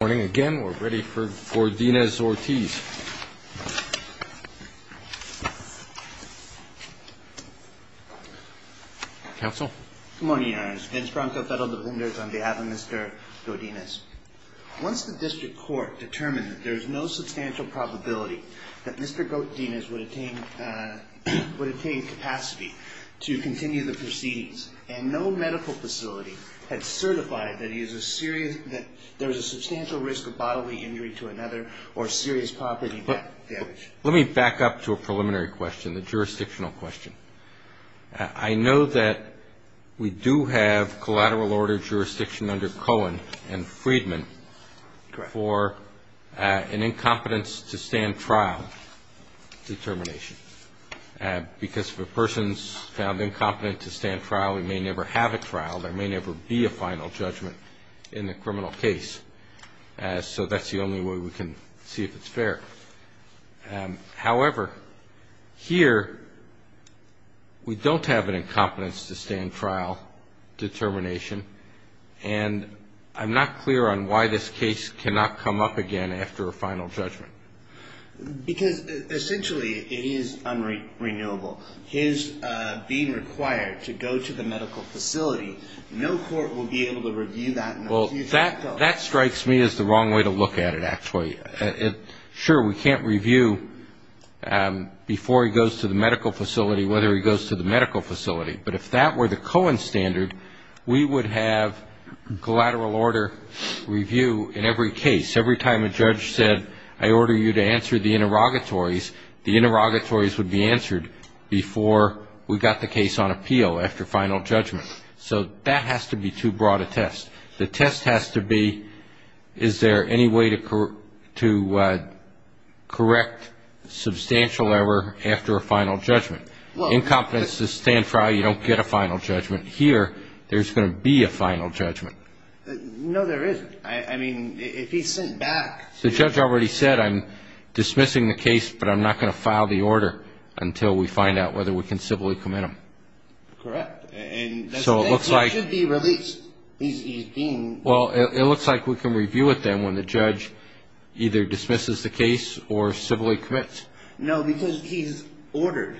Good morning again. We're ready for Godinez-Ortiz. Counsel. Good morning, Your Honors. Vince Bronco, Federal Defenders, on behalf of Mr. Godinez. Once the District Court determined that there is no substantial probability that Mr. Godinez would attain capacity to continue the proceedings, and no medical facility had certified that there is a substantial risk of bodily injury to another or serious property damage. Let me back up to a preliminary question, the jurisdictional question. I know that we do have collateral order jurisdiction under Cohen and Friedman for an incompetence to stand trial determination, because if a person's found incompetent to stand trial, they may never have a trial. There may never be a final judgment in the criminal case. So that's the only way we can see if it's fair. However, here we don't have an incompetence to stand trial determination, and I'm not clear on why this case cannot come up again after a final judgment. Because essentially it is unrenewable. His being required to go to the medical facility, no court will be able to review that. Well, that strikes me as the wrong way to look at it, actually. Sure, we can't review before he goes to the medical facility whether he goes to the medical facility, but if that were the Cohen standard, we would have collateral order review in every case. Every time a judge said, I order you to answer the interrogatories, the interrogatories would be answered before we got the case on appeal after final judgment. So that has to be too broad a test. The test has to be, is there any way to correct substantial error after a final judgment? Incompetence to stand trial, you don't get a final judgment. Here, there's going to be a final judgment. No, there isn't. I mean, if he's sent back. The judge already said, I'm dismissing the case, but I'm not going to file the order until we find out whether we can civilly commit him. So it looks like. He should be released. Well, it looks like we can review it then when the judge either dismisses the case or civilly commits. No, because he's ordered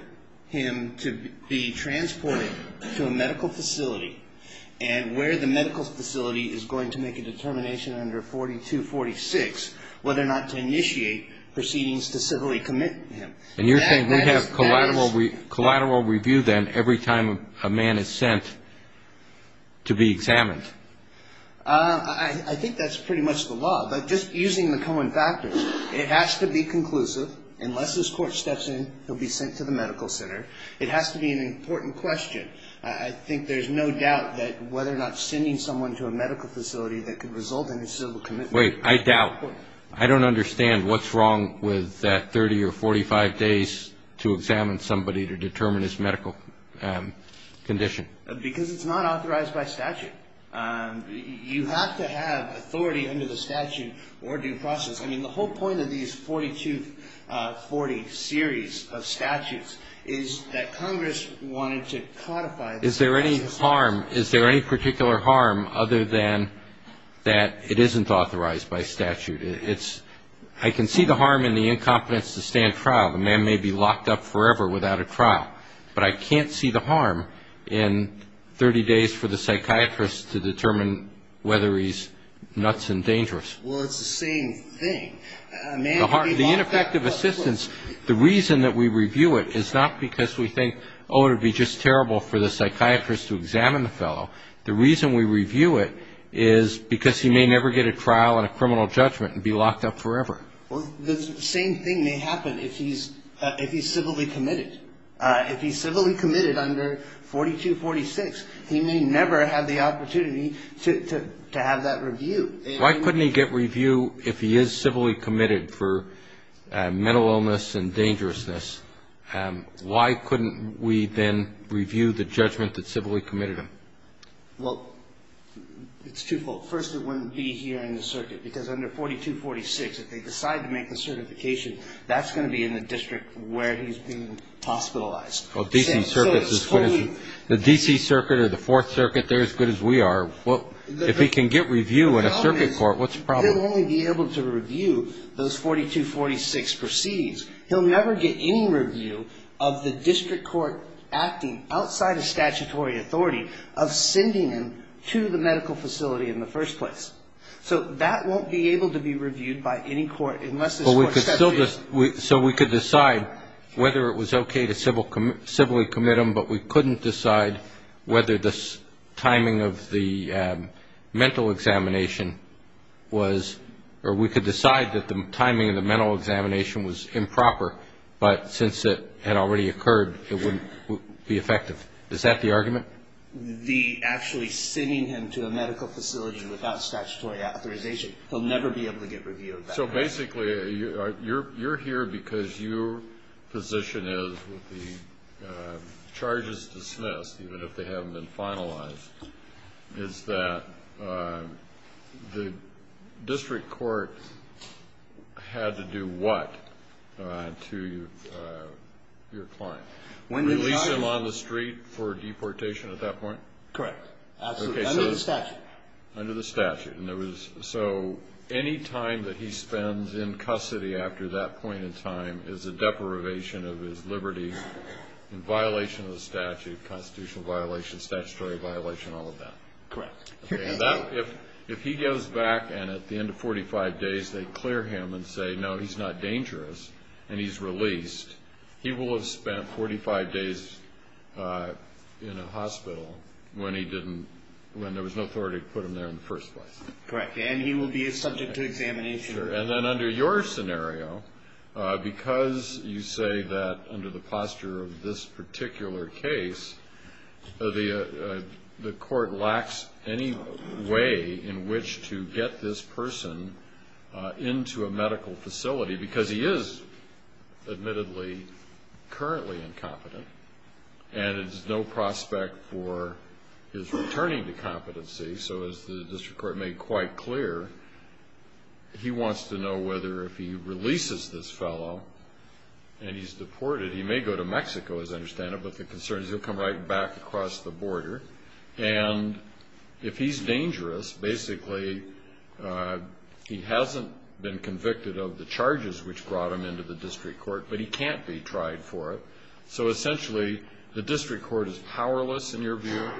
him to be transported to a medical facility, and where the medical facility is going to make a determination under 4246, whether or not to initiate proceedings to civilly commit him. And you're saying we have collateral review then every time a man is sent to be examined? I think that's pretty much the law, but just using the common factors. It has to be conclusive. Unless this court steps in, he'll be sent to the medical center. It has to be an important question. I think there's no doubt that whether or not sending someone to a medical facility that could result in a civil commitment. Wait, I doubt. I don't understand what's wrong with 30 or 45 days to examine somebody to determine his medical condition. Because it's not authorized by statute. You have to have authority under the statute or due process. I mean, the whole point of these 4240 series of statutes is that Congress wanted to codify them. Is there any harm? Is there any particular harm other than that it isn't authorized by statute? I can see the harm in the incompetence to stand trial. The man may be locked up forever without a trial. But I can't see the harm in 30 days for the psychiatrist to determine whether he's nuts and dangerous. Well, it's the same thing. The ineffective assistance, the reason that we review it is not because we think, oh, it would be just terrible for the psychiatrist to examine the fellow. The reason we review it is because he may never get a trial and a criminal judgment and be locked up forever. Well, the same thing may happen if he's civilly committed. If he's civilly committed under 4246, he may never have the opportunity to have that review. Why couldn't he get review if he is civilly committed for mental illness and dangerousness? Why couldn't we then review the judgment that civilly committed him? Well, it's twofold. First, it wouldn't be here in the circuit because under 4246, if they decide to make the certification, that's going to be in the district where he's being hospitalized. The D.C. Circuit or the Fourth Circuit, they're as good as we are. Well, if he can get review in a circuit court, what's the problem? He'll only be able to review those 4246 proceeds. He'll never get any review of the district court acting outside of statutory authority of sending him to the medical facility in the first place. So that won't be able to be reviewed by any court unless this court sets it. So we could decide whether it was okay to civilly commit him, but we couldn't decide whether the timing of the mental examination was or we could decide that the timing of the mental examination was improper, but since it had already occurred, it wouldn't be effective. Is that the argument? The actually sending him to a medical facility without statutory authorization, he'll never be able to get review of that. So basically you're here because your position is with the charges dismissed, even if they haven't been finalized, is that the district court had to do what to your client? Release him on the street for deportation at that point? Correct. Absolutely. Under the statute. Under the statute. So any time that he spends in custody after that point in time is a deprivation of his liberty in violation of the statute, constitutional violation, statutory violation, all of that. Correct. If he goes back and at the end of 45 days they clear him and say, no, he's not dangerous and he's released, he will have spent 45 days in a hospital when he didn't, when there was no authority to put him there in the first place. Correct. And he will be subject to examination. And then under your scenario, because you say that under the posture of this particular case, the court lacks any way in which to get this person into a medical facility, because he is admittedly currently incompetent and there's no prospect for his returning to competency. So as the district court made quite clear, he wants to know whether if he releases this fellow and he's deported, he may go to Mexico as I understand it, but the concern is he'll come right back across the border. And if he's dangerous, basically he hasn't been convicted of the charges which brought him into the district court, but he can't be tried for it. So essentially the district court is powerless, in your view,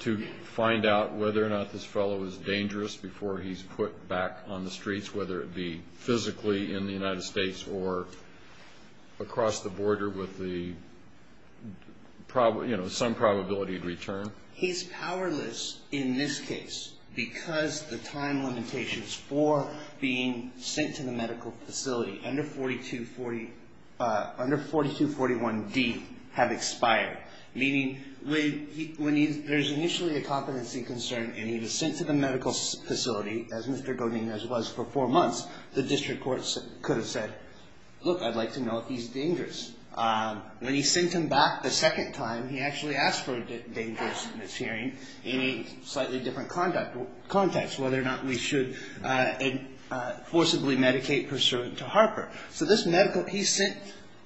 to find out whether or not this fellow is dangerous before he's put back on the streets, whether it be physically in the United States or across the border with some probability of return. He's powerless in this case because the time limitations for being sent to the medical facility under 4241D have expired, meaning when there's initially a competency concern and he was sent to the medical facility, as Mr. Godinez was for four months, the district court could have said, look, I'd like to know if he's dangerous. When he's sent him back the second time, he actually asked for a dangerous mishearing in a slightly different context, whether or not we should forcibly medicate pursuant to Harper. So this medical, he sent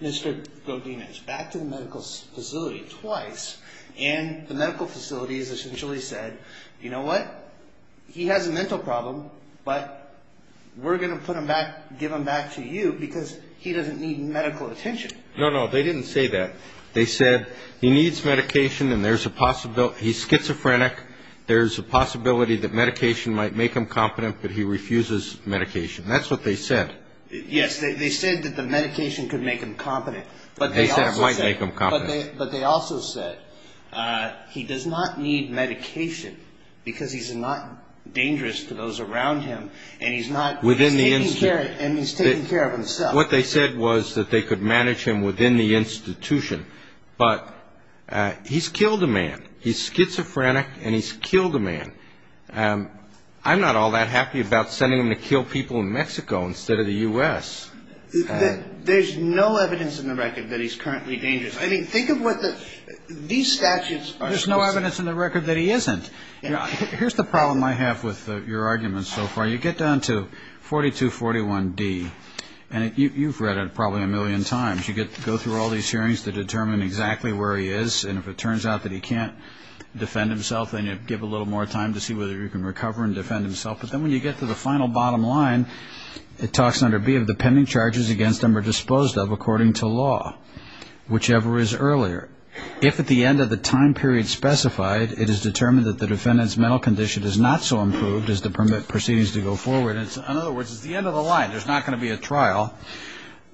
Mr. Godinez back to the medical facility twice, and the medical facility has essentially said, you know what? He has a mental problem, but we're going to give him back to you because he doesn't need medical attention. No, no, they didn't say that. They said he needs medication and there's a possibility, he's schizophrenic, there's a possibility that medication might make him competent, but he refuses medication. That's what they said. Yes, they said that the medication could make him competent. They said it might make him competent. But they also said he does not need medication because he's not dangerous to those around him, and he's taking care of himself. What they said was that they could manage him within the institution, but he's killed a man. He's schizophrenic and he's killed a man. I'm not all that happy about sending him to kill people in Mexico instead of the U.S. There's no evidence in the record that he's currently dangerous. I mean, think of what these statutes are. There's no evidence in the record that he isn't. Here's the problem I have with your arguments so far. You get down to 4241D, and you've read it probably a million times. You go through all these hearings to determine exactly where he is, and if it turns out that he can't defend himself, then you give a little more time to see whether he can recover and defend himself. But then when you get to the final bottom line, it talks under B of the pending charges against him are disposed of according to law, whichever is earlier. If at the end of the time period specified, it is determined that the defendant's mental condition is not so improved as to permit proceedings to go forward, in other words, it's the end of the line. There's not going to be a trial.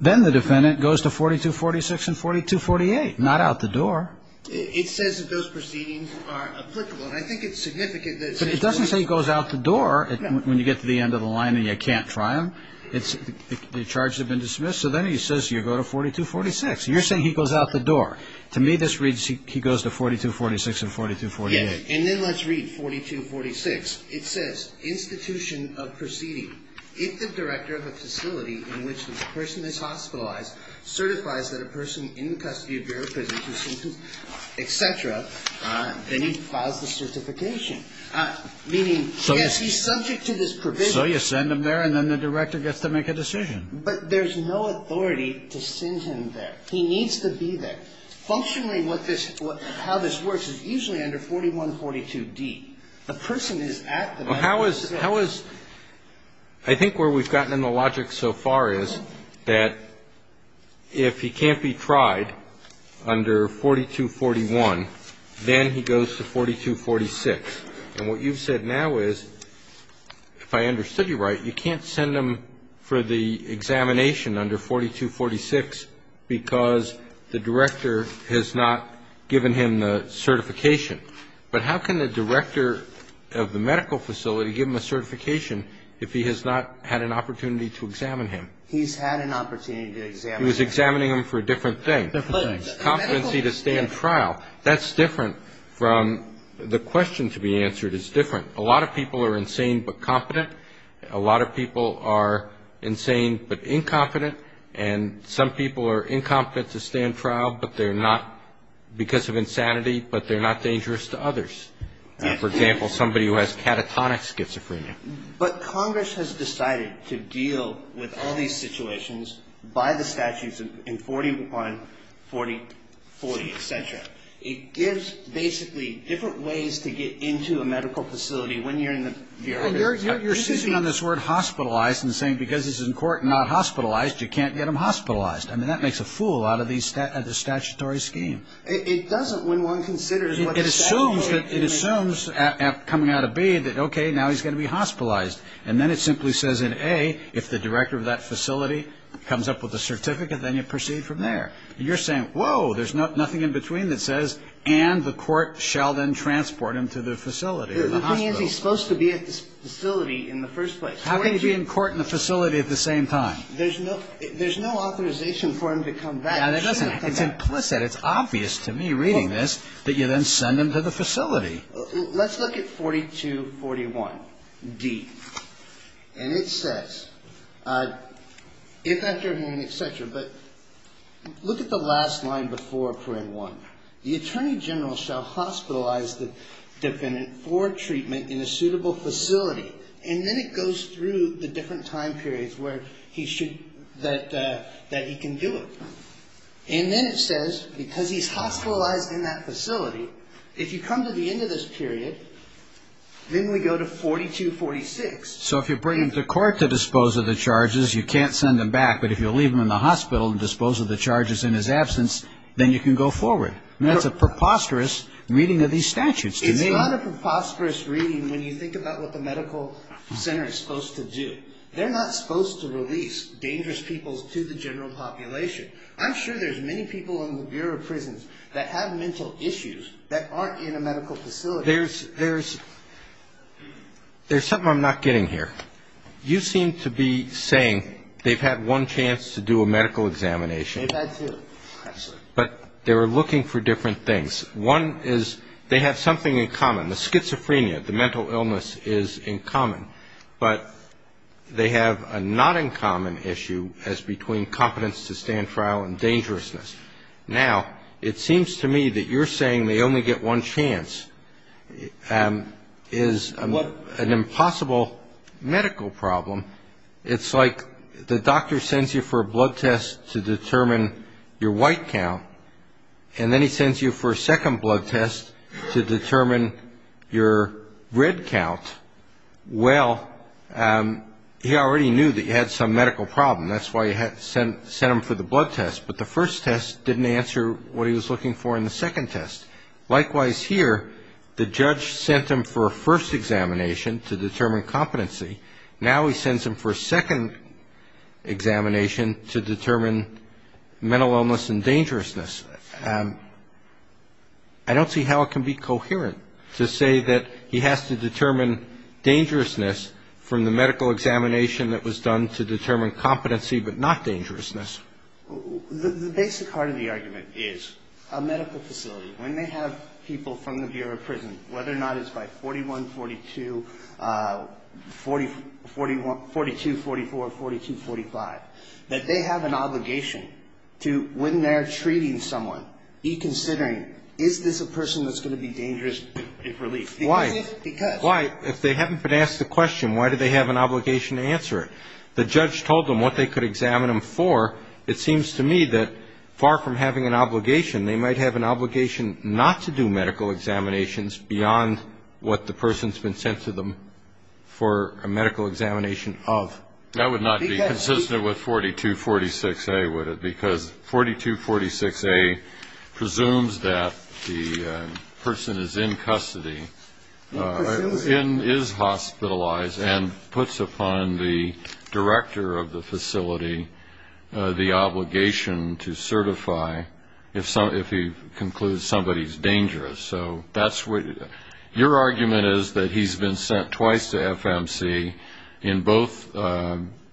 Then the defendant goes to 4246 and 4248, not out the door. It says that those proceedings are applicable, and I think it's significant that But it doesn't say he goes out the door when you get to the end of the line and you can't try him. The charges have been dismissed. So then he says you go to 4246. You're saying he goes out the door. To me, this reads he goes to 4246 and 4248. Yes, and then let's read 4246. It says, institution of proceeding. If the director of a facility in which the person is hospitalized certifies that a person in the custody of your prison, etc., then he files the certification. Meaning, yes, he's subject to this provision. So you send him there, and then the director gets to make a decision. But there's no authority to send him there. He needs to be there. Functionally, what this – how this works is usually under 4142d. The person is at the medical facility. I think where we've gotten in the logic so far is that if he can't be tried under 4241, then he goes to 4246. And what you've said now is, if I understood you right, you can't send him for the examination under 4246 because the director has not given him the certification. But how can the director of the medical facility give him a certification if he has not had an opportunity to examine him? He's had an opportunity to examine him. He was examining him for a different thing. Different thing. Competency to stand trial. That's different from the question to be answered is different. A lot of people are insane but competent. A lot of people are insane but incompetent. And some people are incompetent to stand trial because of insanity, but they're not dangerous to others. For example, somebody who has catatonic schizophrenia. But Congress has decided to deal with all these situations by the statutes in 4140, et cetera. It gives basically different ways to get into a medical facility when you're in the period. You're seizing on this word hospitalized and saying because he's in court not hospitalized, you can't get him hospitalized. I mean, that makes a fool out of the statutory scheme. It doesn't when one considers what the statute is. It assumes coming out of B that, okay, now he's going to be hospitalized. And then it simply says in A, if the director of that facility comes up with a certificate, then you proceed from there. And you're saying, whoa, there's nothing in between that says, and the court shall then transport him to the facility or the hospital. Because he's supposed to be at the facility in the first place. How can he be in court and the facility at the same time? There's no authorization for him to come back. It's implicit. It's obvious to me reading this that you then send him to the facility. Let's look at 4241D. And it says, if, after, and et cetera. But look at the last line before Paragraph 1. The attorney general shall hospitalize the defendant for treatment in a suitable facility. And then it goes through the different time periods where he should, that he can do it. And then it says, because he's hospitalized in that facility, if you come to the end of this period, then we go to 4246. So if you bring him to court to dispose of the charges, you can't send him back. But if you leave him in the hospital and dispose of the charges in his absence, then you can go forward. That's a preposterous reading of these statutes to me. It's not a preposterous reading when you think about what the medical center is supposed to do. They're not supposed to release dangerous people to the general population. I'm sure there's many people in the Bureau of Prisons that have mental issues that aren't in a medical facility. There's something I'm not getting here. You seem to be saying they've had one chance to do a medical examination. They've had two. But they were looking for different things. One is they have something in common. The schizophrenia, the mental illness is in common. But they have a not-in-common issue as between competence to stand trial and dangerousness. Now, it seems to me that you're saying they only get one chance is an impossible medical problem. It's like the doctor sends you for a blood test to determine your white count, and then he sends you for a second blood test to determine your red count. Well, he already knew that you had some medical problem. That's why he sent him for the blood test. But the first test didn't answer what he was looking for in the second test. Likewise here, the judge sent him for a first examination to determine competency. Now he sends him for a second examination to determine mental illness and dangerousness. I don't see how it can be coherent to say that he has to determine dangerousness from the medical examination that was done to determine competency but not dangerousness. The basic heart of the argument is a medical facility, when they have people from the Bureau of Prison, whether or not it's by 4142, 4244, 4245, that they have an obligation to, when they're treating someone, be considering is this a person that's going to be dangerous if released. Why? Because. If they haven't been asked the question, why do they have an obligation to answer it? The judge told them what they could examine them for. It seems to me that far from having an obligation, they might have an obligation not to do medical examinations beyond what the person's been sent to them for a medical examination of. That would not be consistent with 4246A, would it? Because 4246A presumes that the person is in custody, is hospitalized, and puts upon the director of the facility the obligation to certify if he concludes somebody's dangerous. So your argument is that he's been sent twice to FMC in both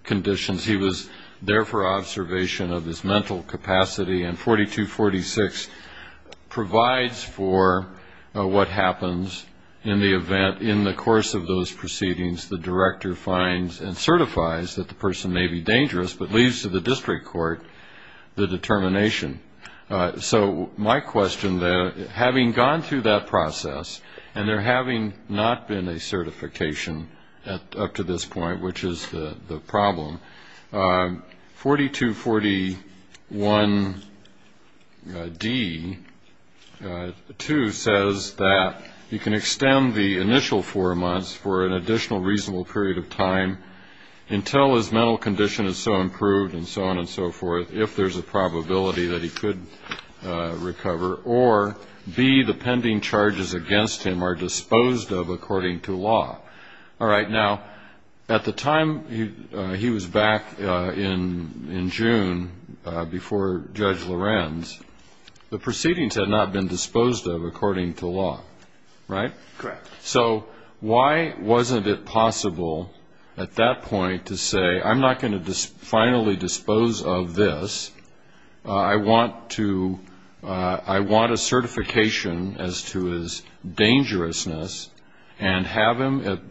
conditions. He was there for observation of his mental capacity, and 4246 provides for what happens in the event, in the course of those proceedings, the director finds and certifies that the person may be dangerous, but leaves to the district court the determination. So my question then, having gone through that process, and there having not been a certification up to this point, which is the problem, 4241D2 says that you can extend the initial four months for an additional reasonable period of time until his mental condition is so improved and so on and so forth, if there's a probability that he could recover, or B, the pending charges against him are disposed of according to law. All right, now, at the time he was back in June before Judge Lorenz, the proceedings had not been disposed of according to law, right? Correct. So why wasn't it possible at that point to say, I'm not going to finally dispose of this, I want a certification as to his dangerousness, and have him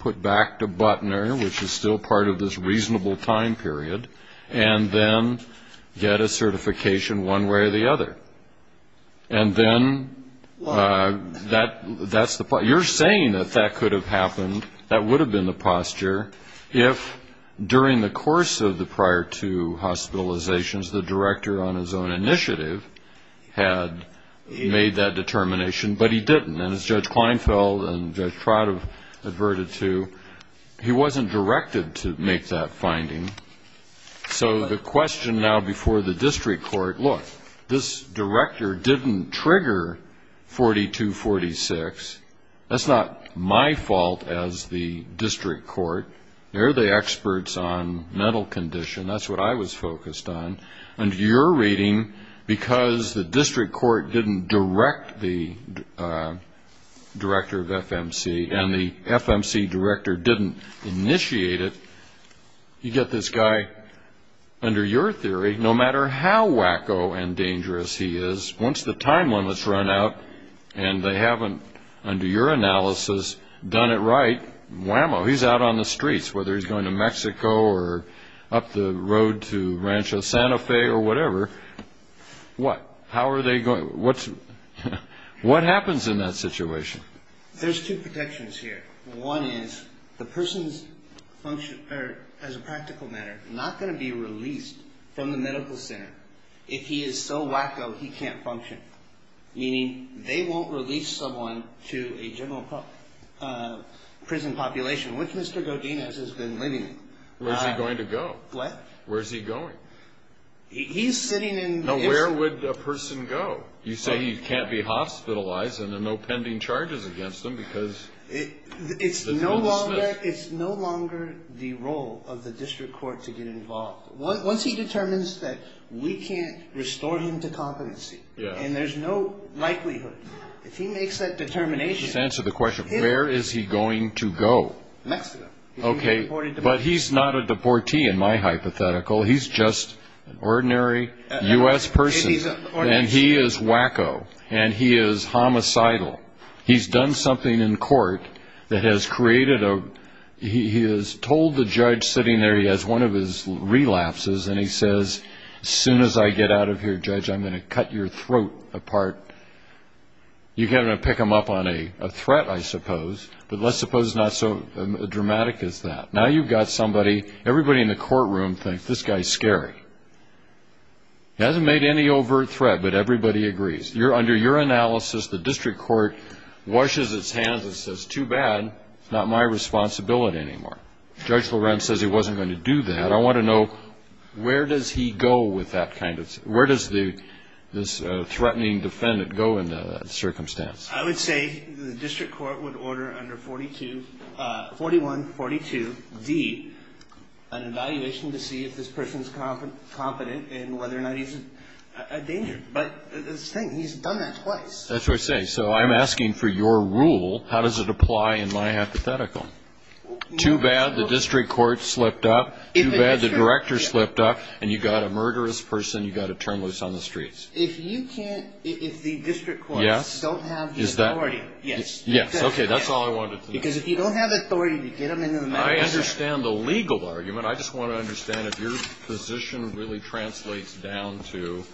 put back to Butner, which is still part of this reasonable time period, and then get a certification one way or the other? And then that's the point. You're saying that that could have happened, that would have been the posture, if during the course of the prior two hospitalizations the director on his own initiative had made that determination, but he didn't, and as Judge Kleinfeld and Judge Trot have adverted to, he wasn't directed to make that finding. So the question now before the district court, look, this director didn't trigger 4246. That's not my fault as the district court. They're the experts on mental condition. That's what I was focused on. Under your reading, because the district court didn't direct the director of FMC and the FMC director didn't initiate it, you get this guy, under your theory, no matter how wacko and dangerous he is, once the time limit's run out and they haven't, under your analysis, done it right, whammo, he's out on the streets, whether he's going to Mexico or up the road to Rancho Santa Fe or whatever. What? How are they going? What happens in that situation? There's two protections here. One is the person's function, as a practical matter, not going to be released from the medical center. If he is so wacko, he can't function, meaning they won't release someone to a general prison population, which Mr. Godinez has been living in. Where's he going to go? What? Where's he going? He's sitting in the... Now, where would a person go? You say he can't be hospitalized and there are no pending charges against him because... It's no longer the role of the district court to get involved. Once he determines that we can't restore him to competency and there's no likelihood, if he makes that determination... Just answer the question, where is he going to go? Mexico. Okay, but he's not a deportee in my hypothetical. He's just an ordinary U.S. person and he is wacko and he is homicidal. He's done something in court that has created a... He has told the judge sitting there, he has one of his relapses, and he says, as soon as I get out of here, judge, I'm going to cut your throat apart. You're going to pick him up on a threat, I suppose, but let's suppose it's not so dramatic as that. Now you've got somebody... Everybody in the courtroom thinks this guy's scary. He hasn't made any overt threat, but everybody agrees. Under your analysis, the district court washes its hands and says, too bad, not my responsibility anymore. Judge Lorenz says he wasn't going to do that. I want to know, where does he go with that kind of... Where does this threatening defendant go in that circumstance? I would say the district court would order under 4142D an evaluation to see if this person is competent and whether or not he's a danger. But this thing, he's done that twice. That's what I'm saying. So I'm asking for your rule. How does it apply in my hypothetical? Too bad the district court slipped up, too bad the director slipped up, and you've got a murderous person you've got to turn loose on the streets. If you can't... If the district courts don't have the authority, yes. Yes. Okay, that's all I wanted to know. Because if you don't have the authority to get them into the matter... I understand the legal argument. I just want to understand if your position really translates down to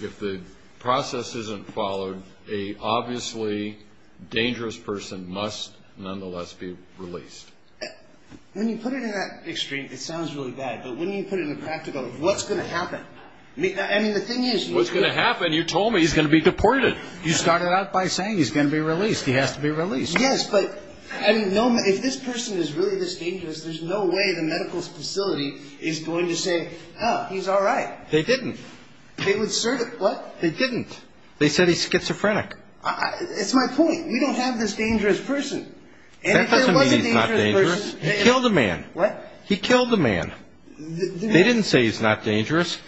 if the process isn't followed, a obviously dangerous person must nonetheless be released. When you put it in that extreme, it sounds really bad. But when you put it in the practical, what's going to happen? I mean, the thing is... What's going to happen? You told me he's going to be deported. You started out by saying he's going to be released. He has to be released. Yes, but if this person is really this dangerous, there's no way the medical facility is going to say, oh, he's all right. They didn't. They would assert it. What? They didn't. They said he's schizophrenic. It's my point. We don't have this dangerous person. That doesn't mean he's not dangerous. He killed a man. What? He killed a man. They didn't say he's not dangerous.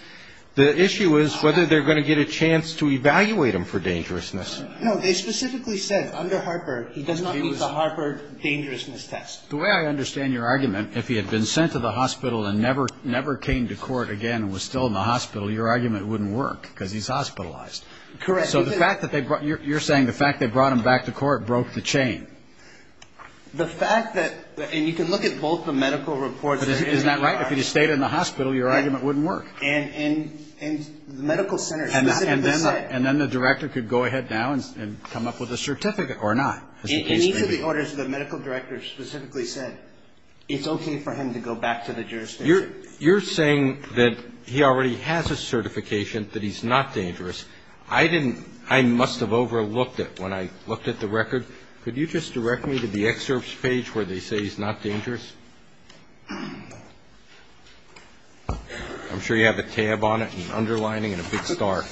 The issue is whether they're going to get a chance to evaluate him for dangerousness. No, they specifically said under Harper he does not meet the Harper dangerousness test. The way I understand your argument, if he had been sent to the hospital and never came to court again and was still in the hospital, your argument wouldn't work because he's hospitalized. Correct. You're saying the fact they brought him back to court broke the chain. The fact that you can look at both the medical reports. Isn't that right? If he had stayed in the hospital, your argument wouldn't work. And the medical center specifically said. And then the director could go ahead now and come up with a certificate or not. In each of the orders, the medical director specifically said it's okay for him to go back to the jurisdiction. You're saying that he already has a certification that he's not dangerous. I didn't. I must have overlooked it when I looked at the record. Could you just direct me to the excerpts page where they say he's not dangerous? I'm sure you have a tab on it and an underlining and a big star.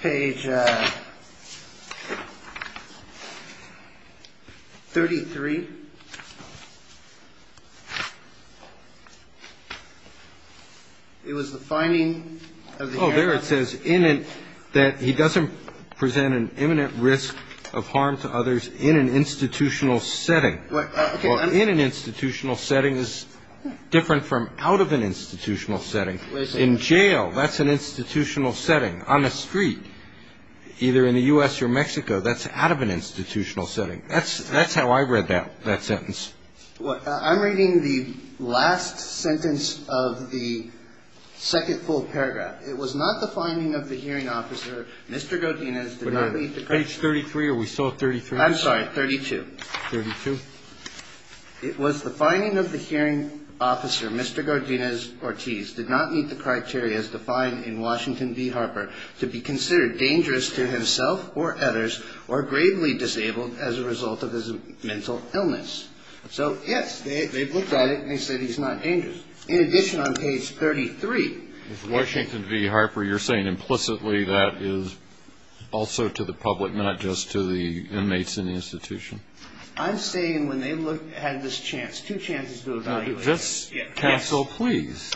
Page 33. It was the finding. Oh, there it says in it that he doesn't present an imminent risk of harm to others in an institutional setting. In an institutional setting is different from out of an institutional setting. In jail, that's an institutional setting. On the street, either in the U.S. or Mexico, that's out of an institutional setting. That's how I read that sentence. I'm reading the last sentence of the second full paragraph. It was not the finding of the hearing officer. Mr. Godinez did not meet the criteria. Page 33 or we still at 33? I'm sorry, 32. 32. It was the finding of the hearing officer, Mr. Godinez Ortiz, did not meet the criteria as defined in Washington v. Harper to be considered dangerous to himself or others or gravely disabled as a result of his mental illness. So, yes, they looked at it and they said he's not dangerous. In addition, on page 33. Washington v. Harper, you're saying implicitly that is also to the public, not just to the inmates in the institution. I'm saying when they had this chance, two chances to evaluate. Cancel, please.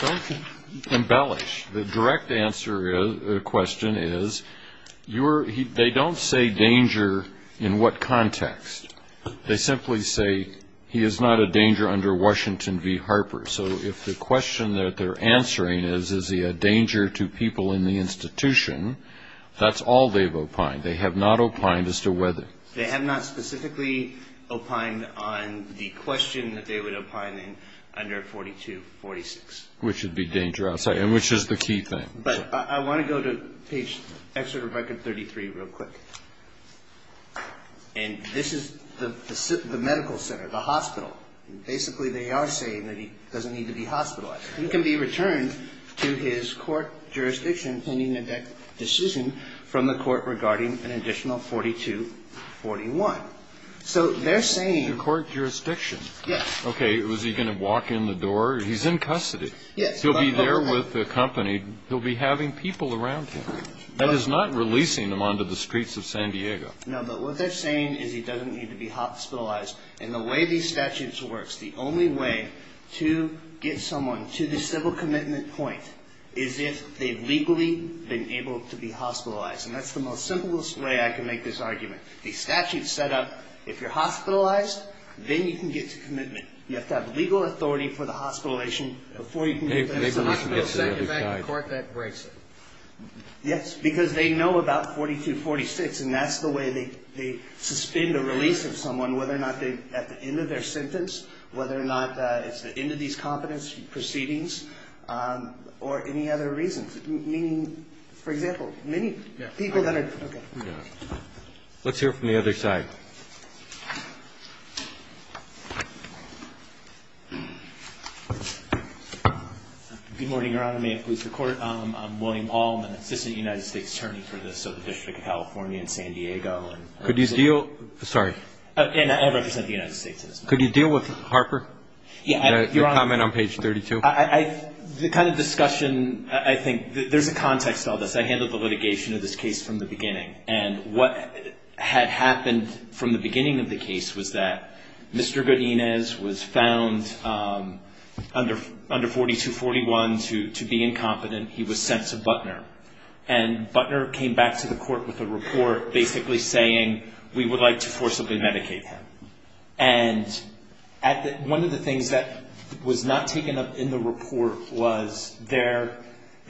Don't embellish. The direct answer to the question is they don't say danger in what context. They simply say he is not a danger under Washington v. Harper. So if the question that they're answering is, is he a danger to people in the institution, that's all they've opined. They have not opined as to whether. They have not specifically opined on the question that they would opine in under 4246. Which would be danger outside. And which is the key thing. But I want to go to page 33 real quick. And this is the medical center, the hospital. Basically, they are saying that he doesn't need to be hospitalized. He can be returned to his court jurisdiction pending a decision from the court regarding an additional 4241. So they're saying. To court jurisdiction. Yes. Okay. Was he going to walk in the door? He's in custody. Yes. He'll be there with the company. He'll be having people around him. That is not releasing him onto the streets of San Diego. No, but what they're saying is he doesn't need to be hospitalized. And the way these statutes work, the only way to get someone to the civil commitment point is if they've legally been able to be hospitalized. And that's the most simplest way I can make this argument. These statutes set up. If you're hospitalized, then you can get to commitment. You have to have legal authority for the hospitalization before you can get to that. There's not going to be a second back in court that breaks it. Yes. Because they know about 4246. And that's the way they suspend the release of someone. Whether or not at the end of their sentence. Whether or not it's the end of these competency proceedings. Or any other reasons. For example, many people that are. Let's hear from the other side. Good morning, Your Honor. May it please the Court. I'm William Hall. I'm an assistant United States attorney for the Southern District of California in San Diego. Could you deal. Sorry. And I represent the United States. Could you deal with Harper? Your comment on page 32. The kind of discussion I think. There's a context to all this. I handled the litigation of this case from the beginning. And what had happened from the beginning of the case was that Mr. Godinez was found under 4241 to be incompetent. He was sent to Butner. And Butner came back to the court with a report basically saying we would like to forcibly medicate him. And one of the things that was not taken up in the report was there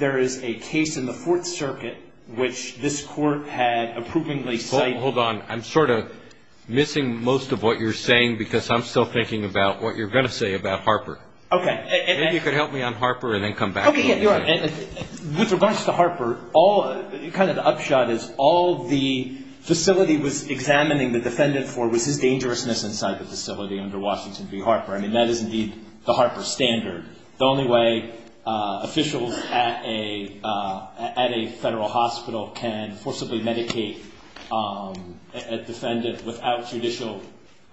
is a case in the Fourth Circuit which this court had approvingly cited. Hold on. I'm sort of missing most of what you're saying because I'm still thinking about what you're going to say about Harper. Okay. Maybe you could help me on Harper and then come back. Okay. With regards to Harper, kind of the upshot is all the facility was examining the defendant for was his dangerousness inside the facility under Washington v. Harper. I mean, that is indeed the Harper standard. The only way officials at a federal hospital can forcibly medicate a defendant without judicial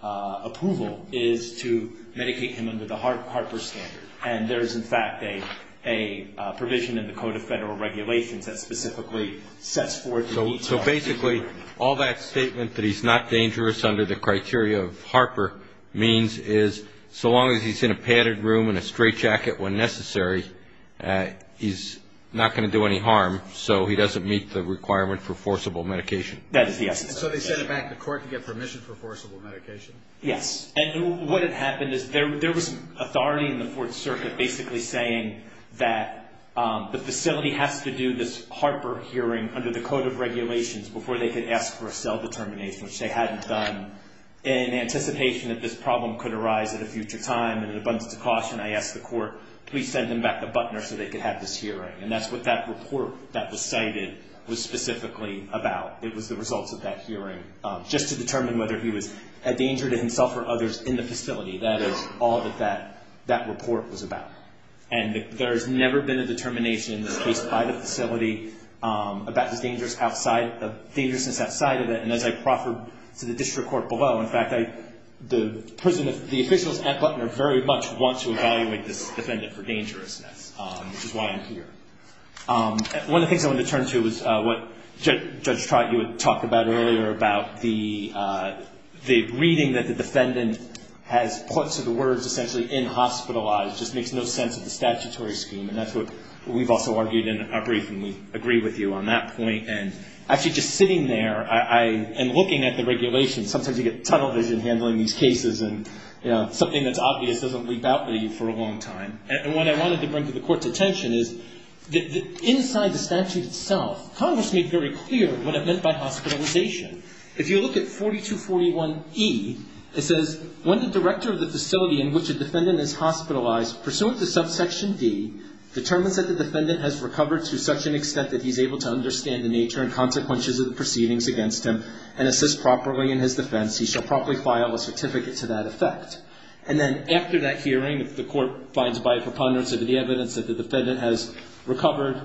approval is to medicate him under the Harper standard. And there is, in fact, a provision in the Code of Federal Regulations that specifically sets forth the needs of our people. So basically all that statement that he's not dangerous under the criteria of Harper means is so long as he's in a padded room and a straight jacket when necessary, he's not going to do any harm, so he doesn't meet the requirement for forcible medication. That is the essence of it. So they sent him back to court to get permission for forcible medication? Yes. And what had happened is there was authority in the Fourth Circuit basically saying that the facility has to do this Harper hearing under the Code of Regulations before they could ask for a cell determination, which they hadn't done. In anticipation that this problem could arise at a future time and it abounds to caution, I asked the court, please send them back to Butner so they could have this hearing. And that's what that report that was cited was specifically about. It was the results of that hearing just to determine whether he was a danger to himself or others in the facility. That is all that that report was about. And there has never been a determination in this case by the facility about the dangers outside of it. And as I proffered to the district court below, in fact, the officials at Butner very much want to evaluate this defendant for dangerousness, which is why I'm here. One of the things I wanted to turn to is what Judge Trott, you had talked about earlier about the reading that the defendant has put to the words essentially inhospitalized, just makes no sense of the statutory scheme. And that's what we've also argued in our briefing. We agree with you on that point. And actually just sitting there and looking at the regulations, sometimes you get tunnel vision handling these cases. And something that's obvious doesn't leap out at you for a long time. And what I wanted to bring to the court's attention is that inside the statute itself, Congress made very clear what it meant by hospitalization. If you look at 4241E, it says when the director of the facility in which a defendant is hospitalized pursuant to subsection D determines that the defendant has recovered to such an extent that he's able to understand the nature and consequences of the proceedings against him and assist properly in his defense, he shall properly file a certificate to that effect. And then after that hearing, if the court finds by a preponderance of the evidence that the defendant has recovered,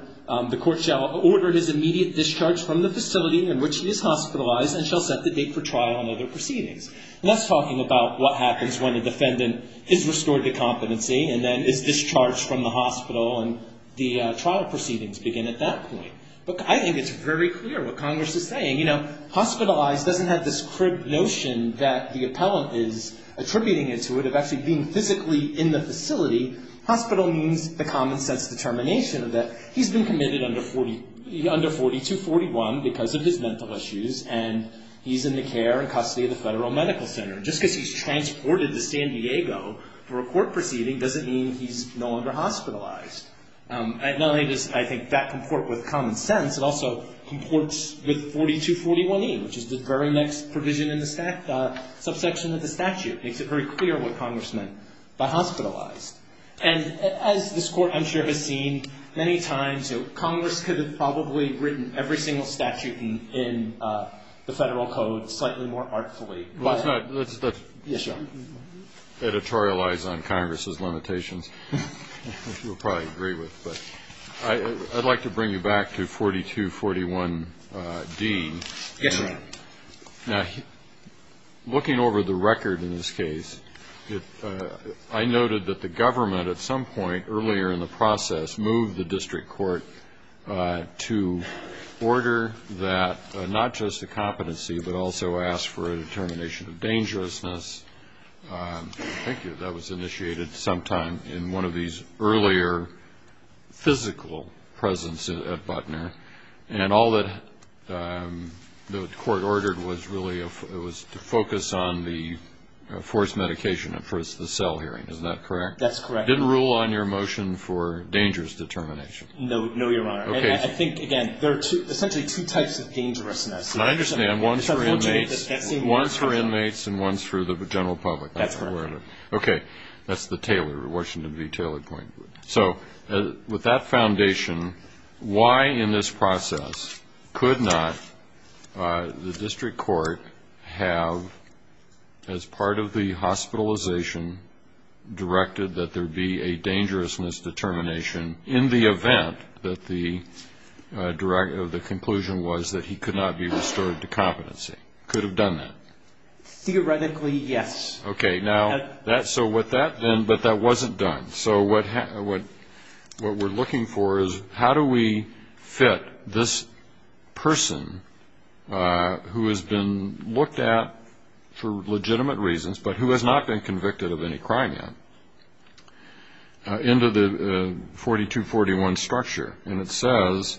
the court shall order his immediate discharge from the facility in which he is hospitalized and shall set the date for trial and other proceedings. And that's talking about what happens when a defendant is restored to competency and then is discharged from the hospital and the trial proceedings begin at that point. But I think it's very clear what Congress is saying. You know, hospitalized doesn't have this crib notion that the appellant is attributing it to it of actually being physically in the facility. Hospital means the common sense determination that he's been committed under 4241 because of his mental issues and he's in the care and custody of the Federal Medical Center. Just because he's transported to San Diego for a court proceeding doesn't mean he's no longer hospitalized. Not only does I think that comport with common sense, it also comports with 4241E, which is the very next provision in the subsection of the statute. Makes it very clear what Congress meant by hospitalized. And as this Court, I'm sure, has seen many times, you know, Congress could have probably written every single statute in the Federal Code slightly more artfully. Let's not editorialize on Congress's limitations, which we'll probably agree with. But I'd like to bring you back to 4241D. Yes, Your Honor. Now, looking over the record in this case, I noted that the government at some point earlier in the process moved the district court to order that not just a competency but also ask for a determination of dangerousness. I think that was initiated sometime in one of these earlier physical presences at Butner. And all that the court ordered was really to focus on the forced medication at first, the cell hearing. Is that correct? That's correct. Didn't rule on your motion for dangerous determination? No, Your Honor. And I think, again, there are essentially two types of dangerousness. I understand. One's for inmates and one's for the general public. That's correct. Okay. That's the Taylor, Washington v. Taylor Point. So with that foundation, why in this process could not the district court have, as part of the hospitalization, directed that there be a dangerousness determination in the event that the conclusion was that he could not be restored to competency? Could have done that? Theoretically, yes. Okay. Now, so with that then, but that wasn't done. So what we're looking for is how do we fit this person who has been looked at for legitimate reasons, but who has not been convicted of any crime yet, into the 4241 structure? And it says,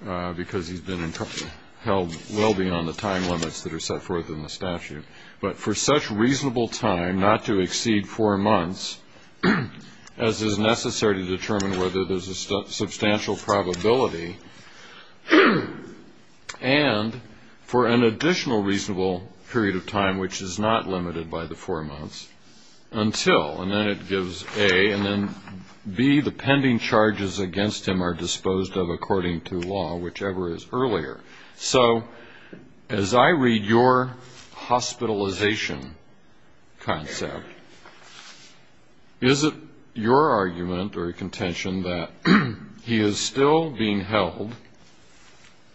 because he's been held well beyond the time limits that are set forth in the statute, but for such reasonable time, not to exceed four months, as is necessary to determine whether there's a substantial probability, and for an additional reasonable period of time which is not limited by the four months until. And then it gives A. And then B, the pending charges against him are disposed of according to law, whichever is earlier. So as I read your hospitalization concept, is it your argument or contention that he is still being held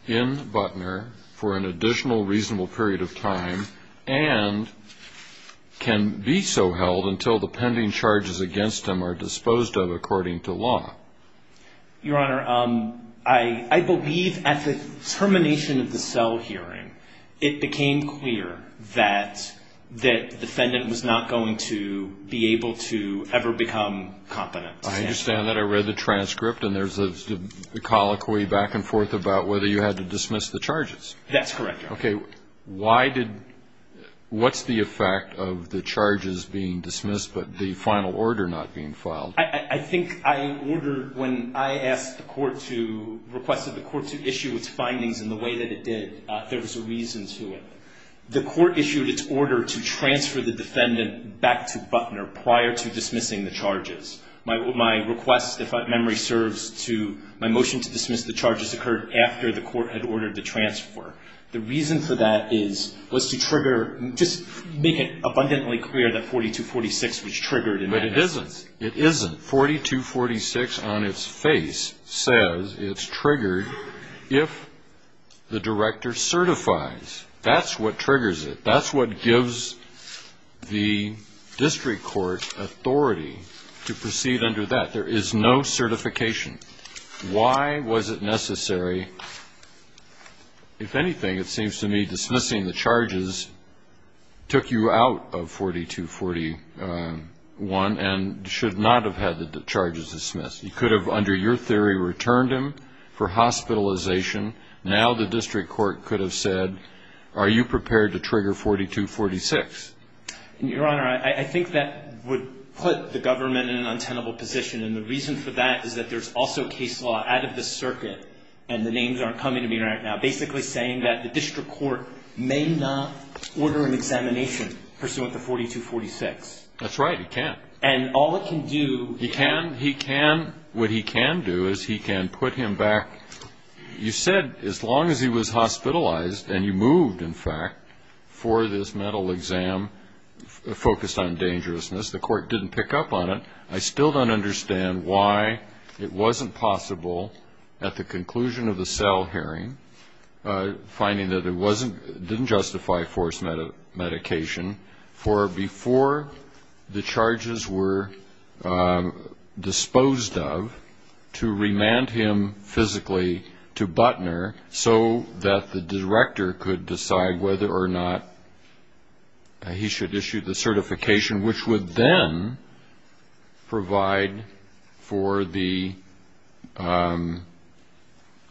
in Butner for an additional reasonable period of time, and can be so held until the pending charges against him are disposed of according to law? Your Honor, I believe at the termination of the cell hearing, it became clear that the defendant was not going to be able to ever become competent. I understand that. I read the transcript, and there's a colloquy back and forth about whether you had to dismiss the charges. That's correct, Your Honor. Okay. Why did, what's the effect of the charges being dismissed, but the final order not being filed? I think I ordered when I asked the court to, requested the court to issue its findings in the way that it did, there was a reason to it. The court issued its order to transfer the defendant back to Butner prior to dismissing the charges. My request, if I have memory, serves to my motion to dismiss the charges occurred after the court had ordered the transfer. The reason for that is, was to trigger, just make it abundantly clear that 4246 was triggered in that instance. It isn't. 4246 on its face says it's triggered if the director certifies. That's what triggers it. That's what gives the district court authority to proceed under that. There is no certification. Why was it necessary? If anything, it seems to me dismissing the charges took you out of 4241 and should not have had the charges dismissed. You could have, under your theory, returned him for hospitalization. Now the district court could have said, are you prepared to trigger 4246? Your Honor, I think that would put the government in an untenable position, and the reason for that is that there's also case law out of the circuit, and the names aren't coming to me right now, basically saying that the district court may not order an examination pursuant to 4246. That's right. It can't. And all it can do is put him back. You said as long as he was hospitalized and you moved, in fact, for this mental exam focused on dangerousness, the court didn't pick up on it, I still don't understand why it wasn't possible at the conclusion of the cell hearing, finding that it didn't justify forced medication, for before the charges were disposed of to remand him physically to Butner so that the director could decide whether or not he should issue the certification, which would then provide for the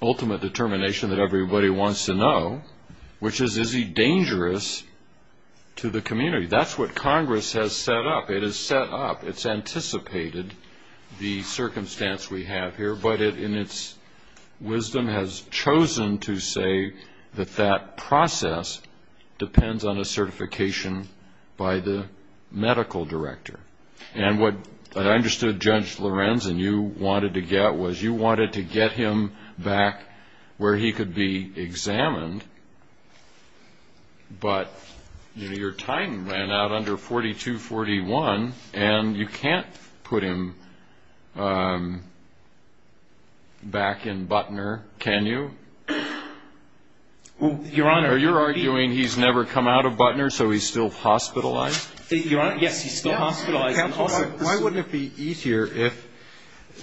ultimate determination that everybody wants to know, which is, is he dangerous to the community? That's what Congress has set up. It's anticipated the circumstance we have here, but in its wisdom has chosen to say that that process depends on a certification by the medical director. And what I understood, Judge Lorenzen, you wanted to get was you wanted to get him back where he could be examined, but your time ran out under 4241, and you can't put him back in Butner, can you? Your Honor, you're arguing he's never come out of Butner, so he's still hospitalized? Your Honor, yes, he's still hospitalized. Counsel, why wouldn't it be easier if,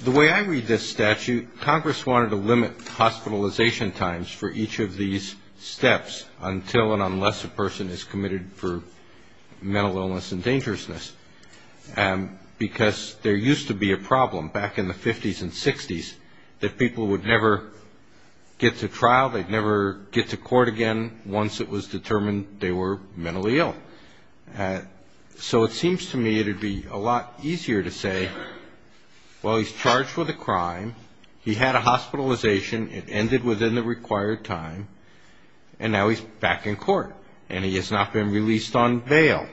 the way I read this statute, Congress wanted to limit hospitalization times for each of these steps until and unless a person is committed for mental illness and dangerousness, because there used to be a problem back in the 50s and 60s that people would never get to trial, they'd never get to court again once it was determined they were mentally ill. So it seems to me it would be a lot easier to say, well, he's charged with a crime. He had a hospitalization. It ended within the required time, and now he's back in court, and he has not been released on bail.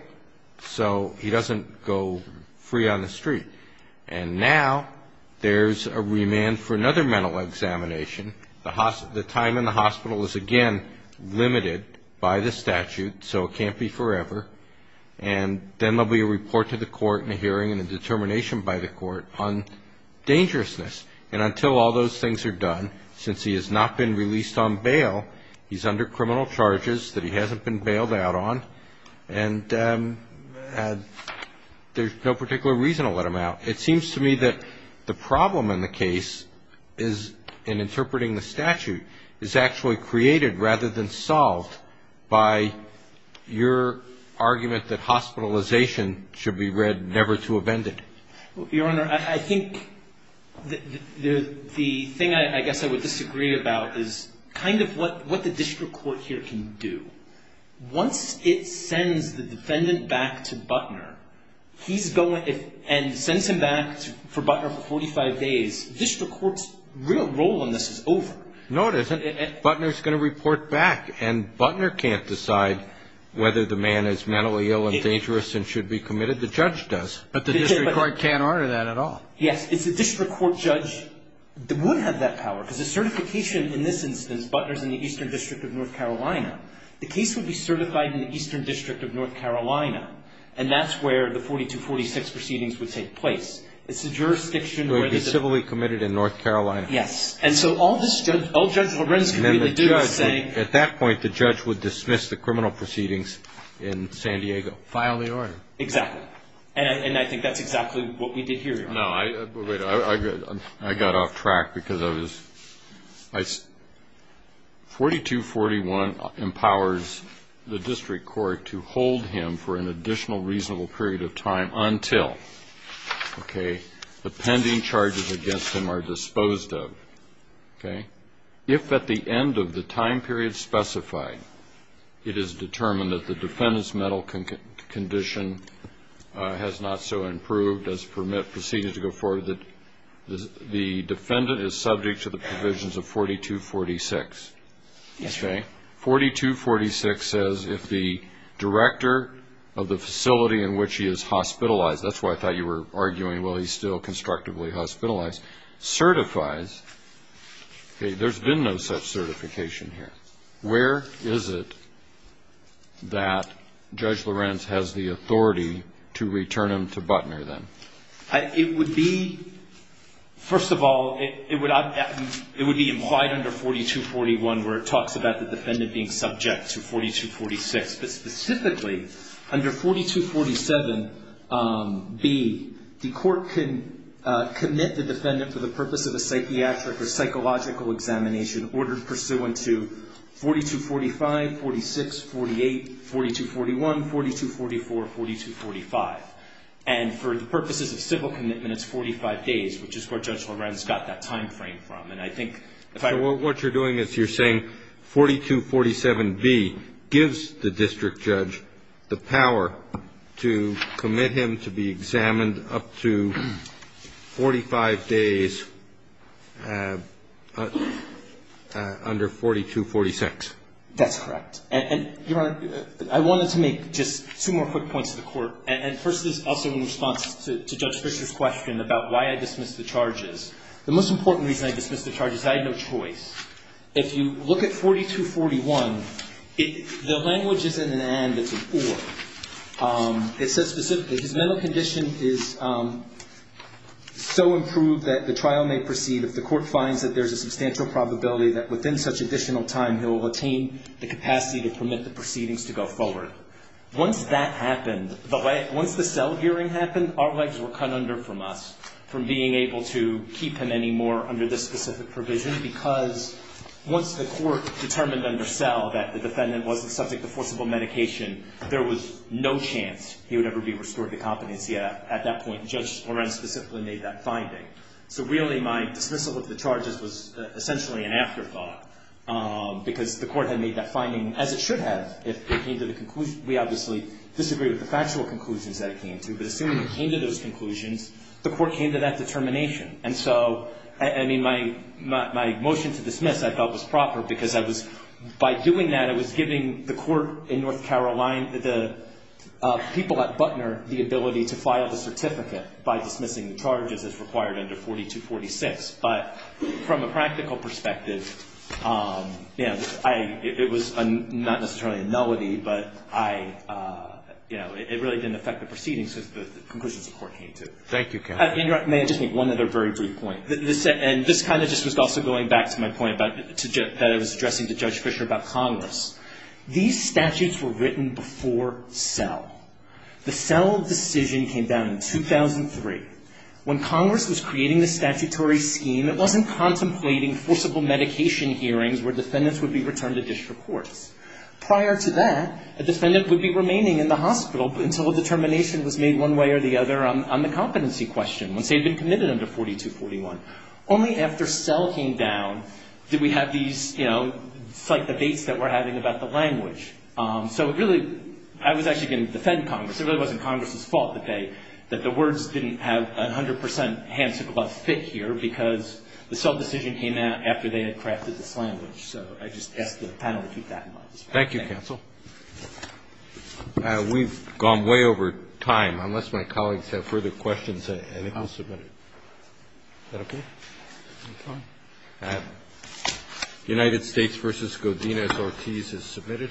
So he doesn't go free on the street. And now there's a remand for another mental examination. The time in the hospital is, again, limited by the statute, so it can't be forever. And then there'll be a report to the court and a hearing and a determination by the court on dangerousness. And until all those things are done, since he has not been released on bail, he's under criminal charges that he hasn't been bailed out on, and there's no particular reason to let him out. It seems to me that the problem in the case is, in interpreting the statute, is actually created rather than solved by your argument that hospitalization should be read never to have ended. Your Honor, I think the thing I guess I would disagree about is kind of what the district court here can do. Once it sends the defendant back to Butner, and sends him back for Butner for 45 days, district court's real role in this is over. No, it isn't. Butner's going to report back, and Butner can't decide whether the man is mentally ill and dangerous and should be committed. The judge does, but the district court can't honor that at all. Yes, it's the district court judge that would have that power, because the certification in this instance, Butner's in the Eastern District of North Carolina. The case would be certified in the Eastern District of North Carolina, and that's where the 4246 proceedings would take place. It's the jurisdiction where the judge would be. It would be civilly committed in North Carolina. Yes. And so all Judge Lorenz could really do is say. At that point, the judge would dismiss the criminal proceedings in San Diego. File the order. Exactly. And I think that's exactly what we did here, Your Honor. I got off track because I was. 4241 empowers the district court to hold him for an additional reasonable period of time until the pending charges against him are disposed of. If at the end of the time period specified, it is determined that the defendant's mental condition has not so improved as permitted proceedings to go forward, that the defendant is subject to the provisions of 4246. Yes, Your Honor. Okay. 4246 says if the director of the facility in which he is hospitalized, that's why I thought you were arguing, well, he's still constructively hospitalized, certifies. Okay. There's been no such certification here. Where is it that Judge Lorenz has the authority to return him to Butner, then? It would be, first of all, it would be implied under 4241 where it talks about the defendant being subject to 4246. But specifically, under 4247B, the court can commit the defendant for the purpose of a psychiatric or psychological examination ordered pursuant to 4245, 4246, 4248, 4241, 4244, 4245. And for the purposes of civil commitment, it's 45 days, which is where Judge Lorenz got that time frame from. And I think if I were to do it, what you're doing is you're saying 4247B gives the district judge the power to commit him to be examined up to 45 days under 4246. That's correct. And, Your Honor, I wanted to make just two more quick points to the Court. And first is also in response to Judge Fisher's question about why I dismissed the charges. The most important reason I dismissed the charges is I had no choice. If you look at 4241, the language is in an and that's an or. It says specifically, his mental condition is so improved that the trial may proceed if the court finds that there's a substantial probability that within such additional time he'll attain the capacity to permit the proceedings to go forward. Once that happened, once the cell hearing happened, our legs were cut under from us, from being able to keep him anymore under this specific provision, because once the court determined under cell that the defendant wasn't subject to forcible medication, there was no chance he would ever be restored to competency at that point. Judge Lorenz specifically made that finding. So, really, my dismissal of the charges was essentially an afterthought, because the court had made that finding, as it should have, if it came to the conclusion. We obviously disagreed with the factual conclusions that it came to, but assuming it came to those conclusions, the court came to that determination. And so, I mean, my motion to dismiss, I felt, was proper because I was, by doing that, I was giving the court in North Carolina, the people at Butner, the ability to file the certificate by dismissing the charges as required under 4246. But from a practical perspective, you know, it was not necessarily a nullity, but I, you know, it really didn't affect the proceedings because the conclusions the court came to. Thank you, counsel. May I just make one other very brief point? And this kind of just was also going back to my point that I was addressing to Judge Fisher about Congress. These statutes were written before cell. The cell decision came down in 2003. When Congress was creating the statutory scheme, it wasn't contemplating forcible medication hearings where defendants would be returned to district courts. Prior to that, a defendant would be remaining in the hospital until a determination was made one way or the other on the competency question, once they had been committed under 4241. Only after cell came down did we have these, you know, it's like the debates that we're having about the language. So it really, I was actually going to defend Congress. It really wasn't Congress's fault that they, that the words didn't have 100 percent hand-to-glove fit here because the cell decision came out after they had crafted this language. So I just ask the panel to keep that in mind. Thank you, counsel. We've gone way over time. Unless my colleagues have further questions, I think we'll submit it. Is that okay? United States v. Godinez-Ortiz is submitted.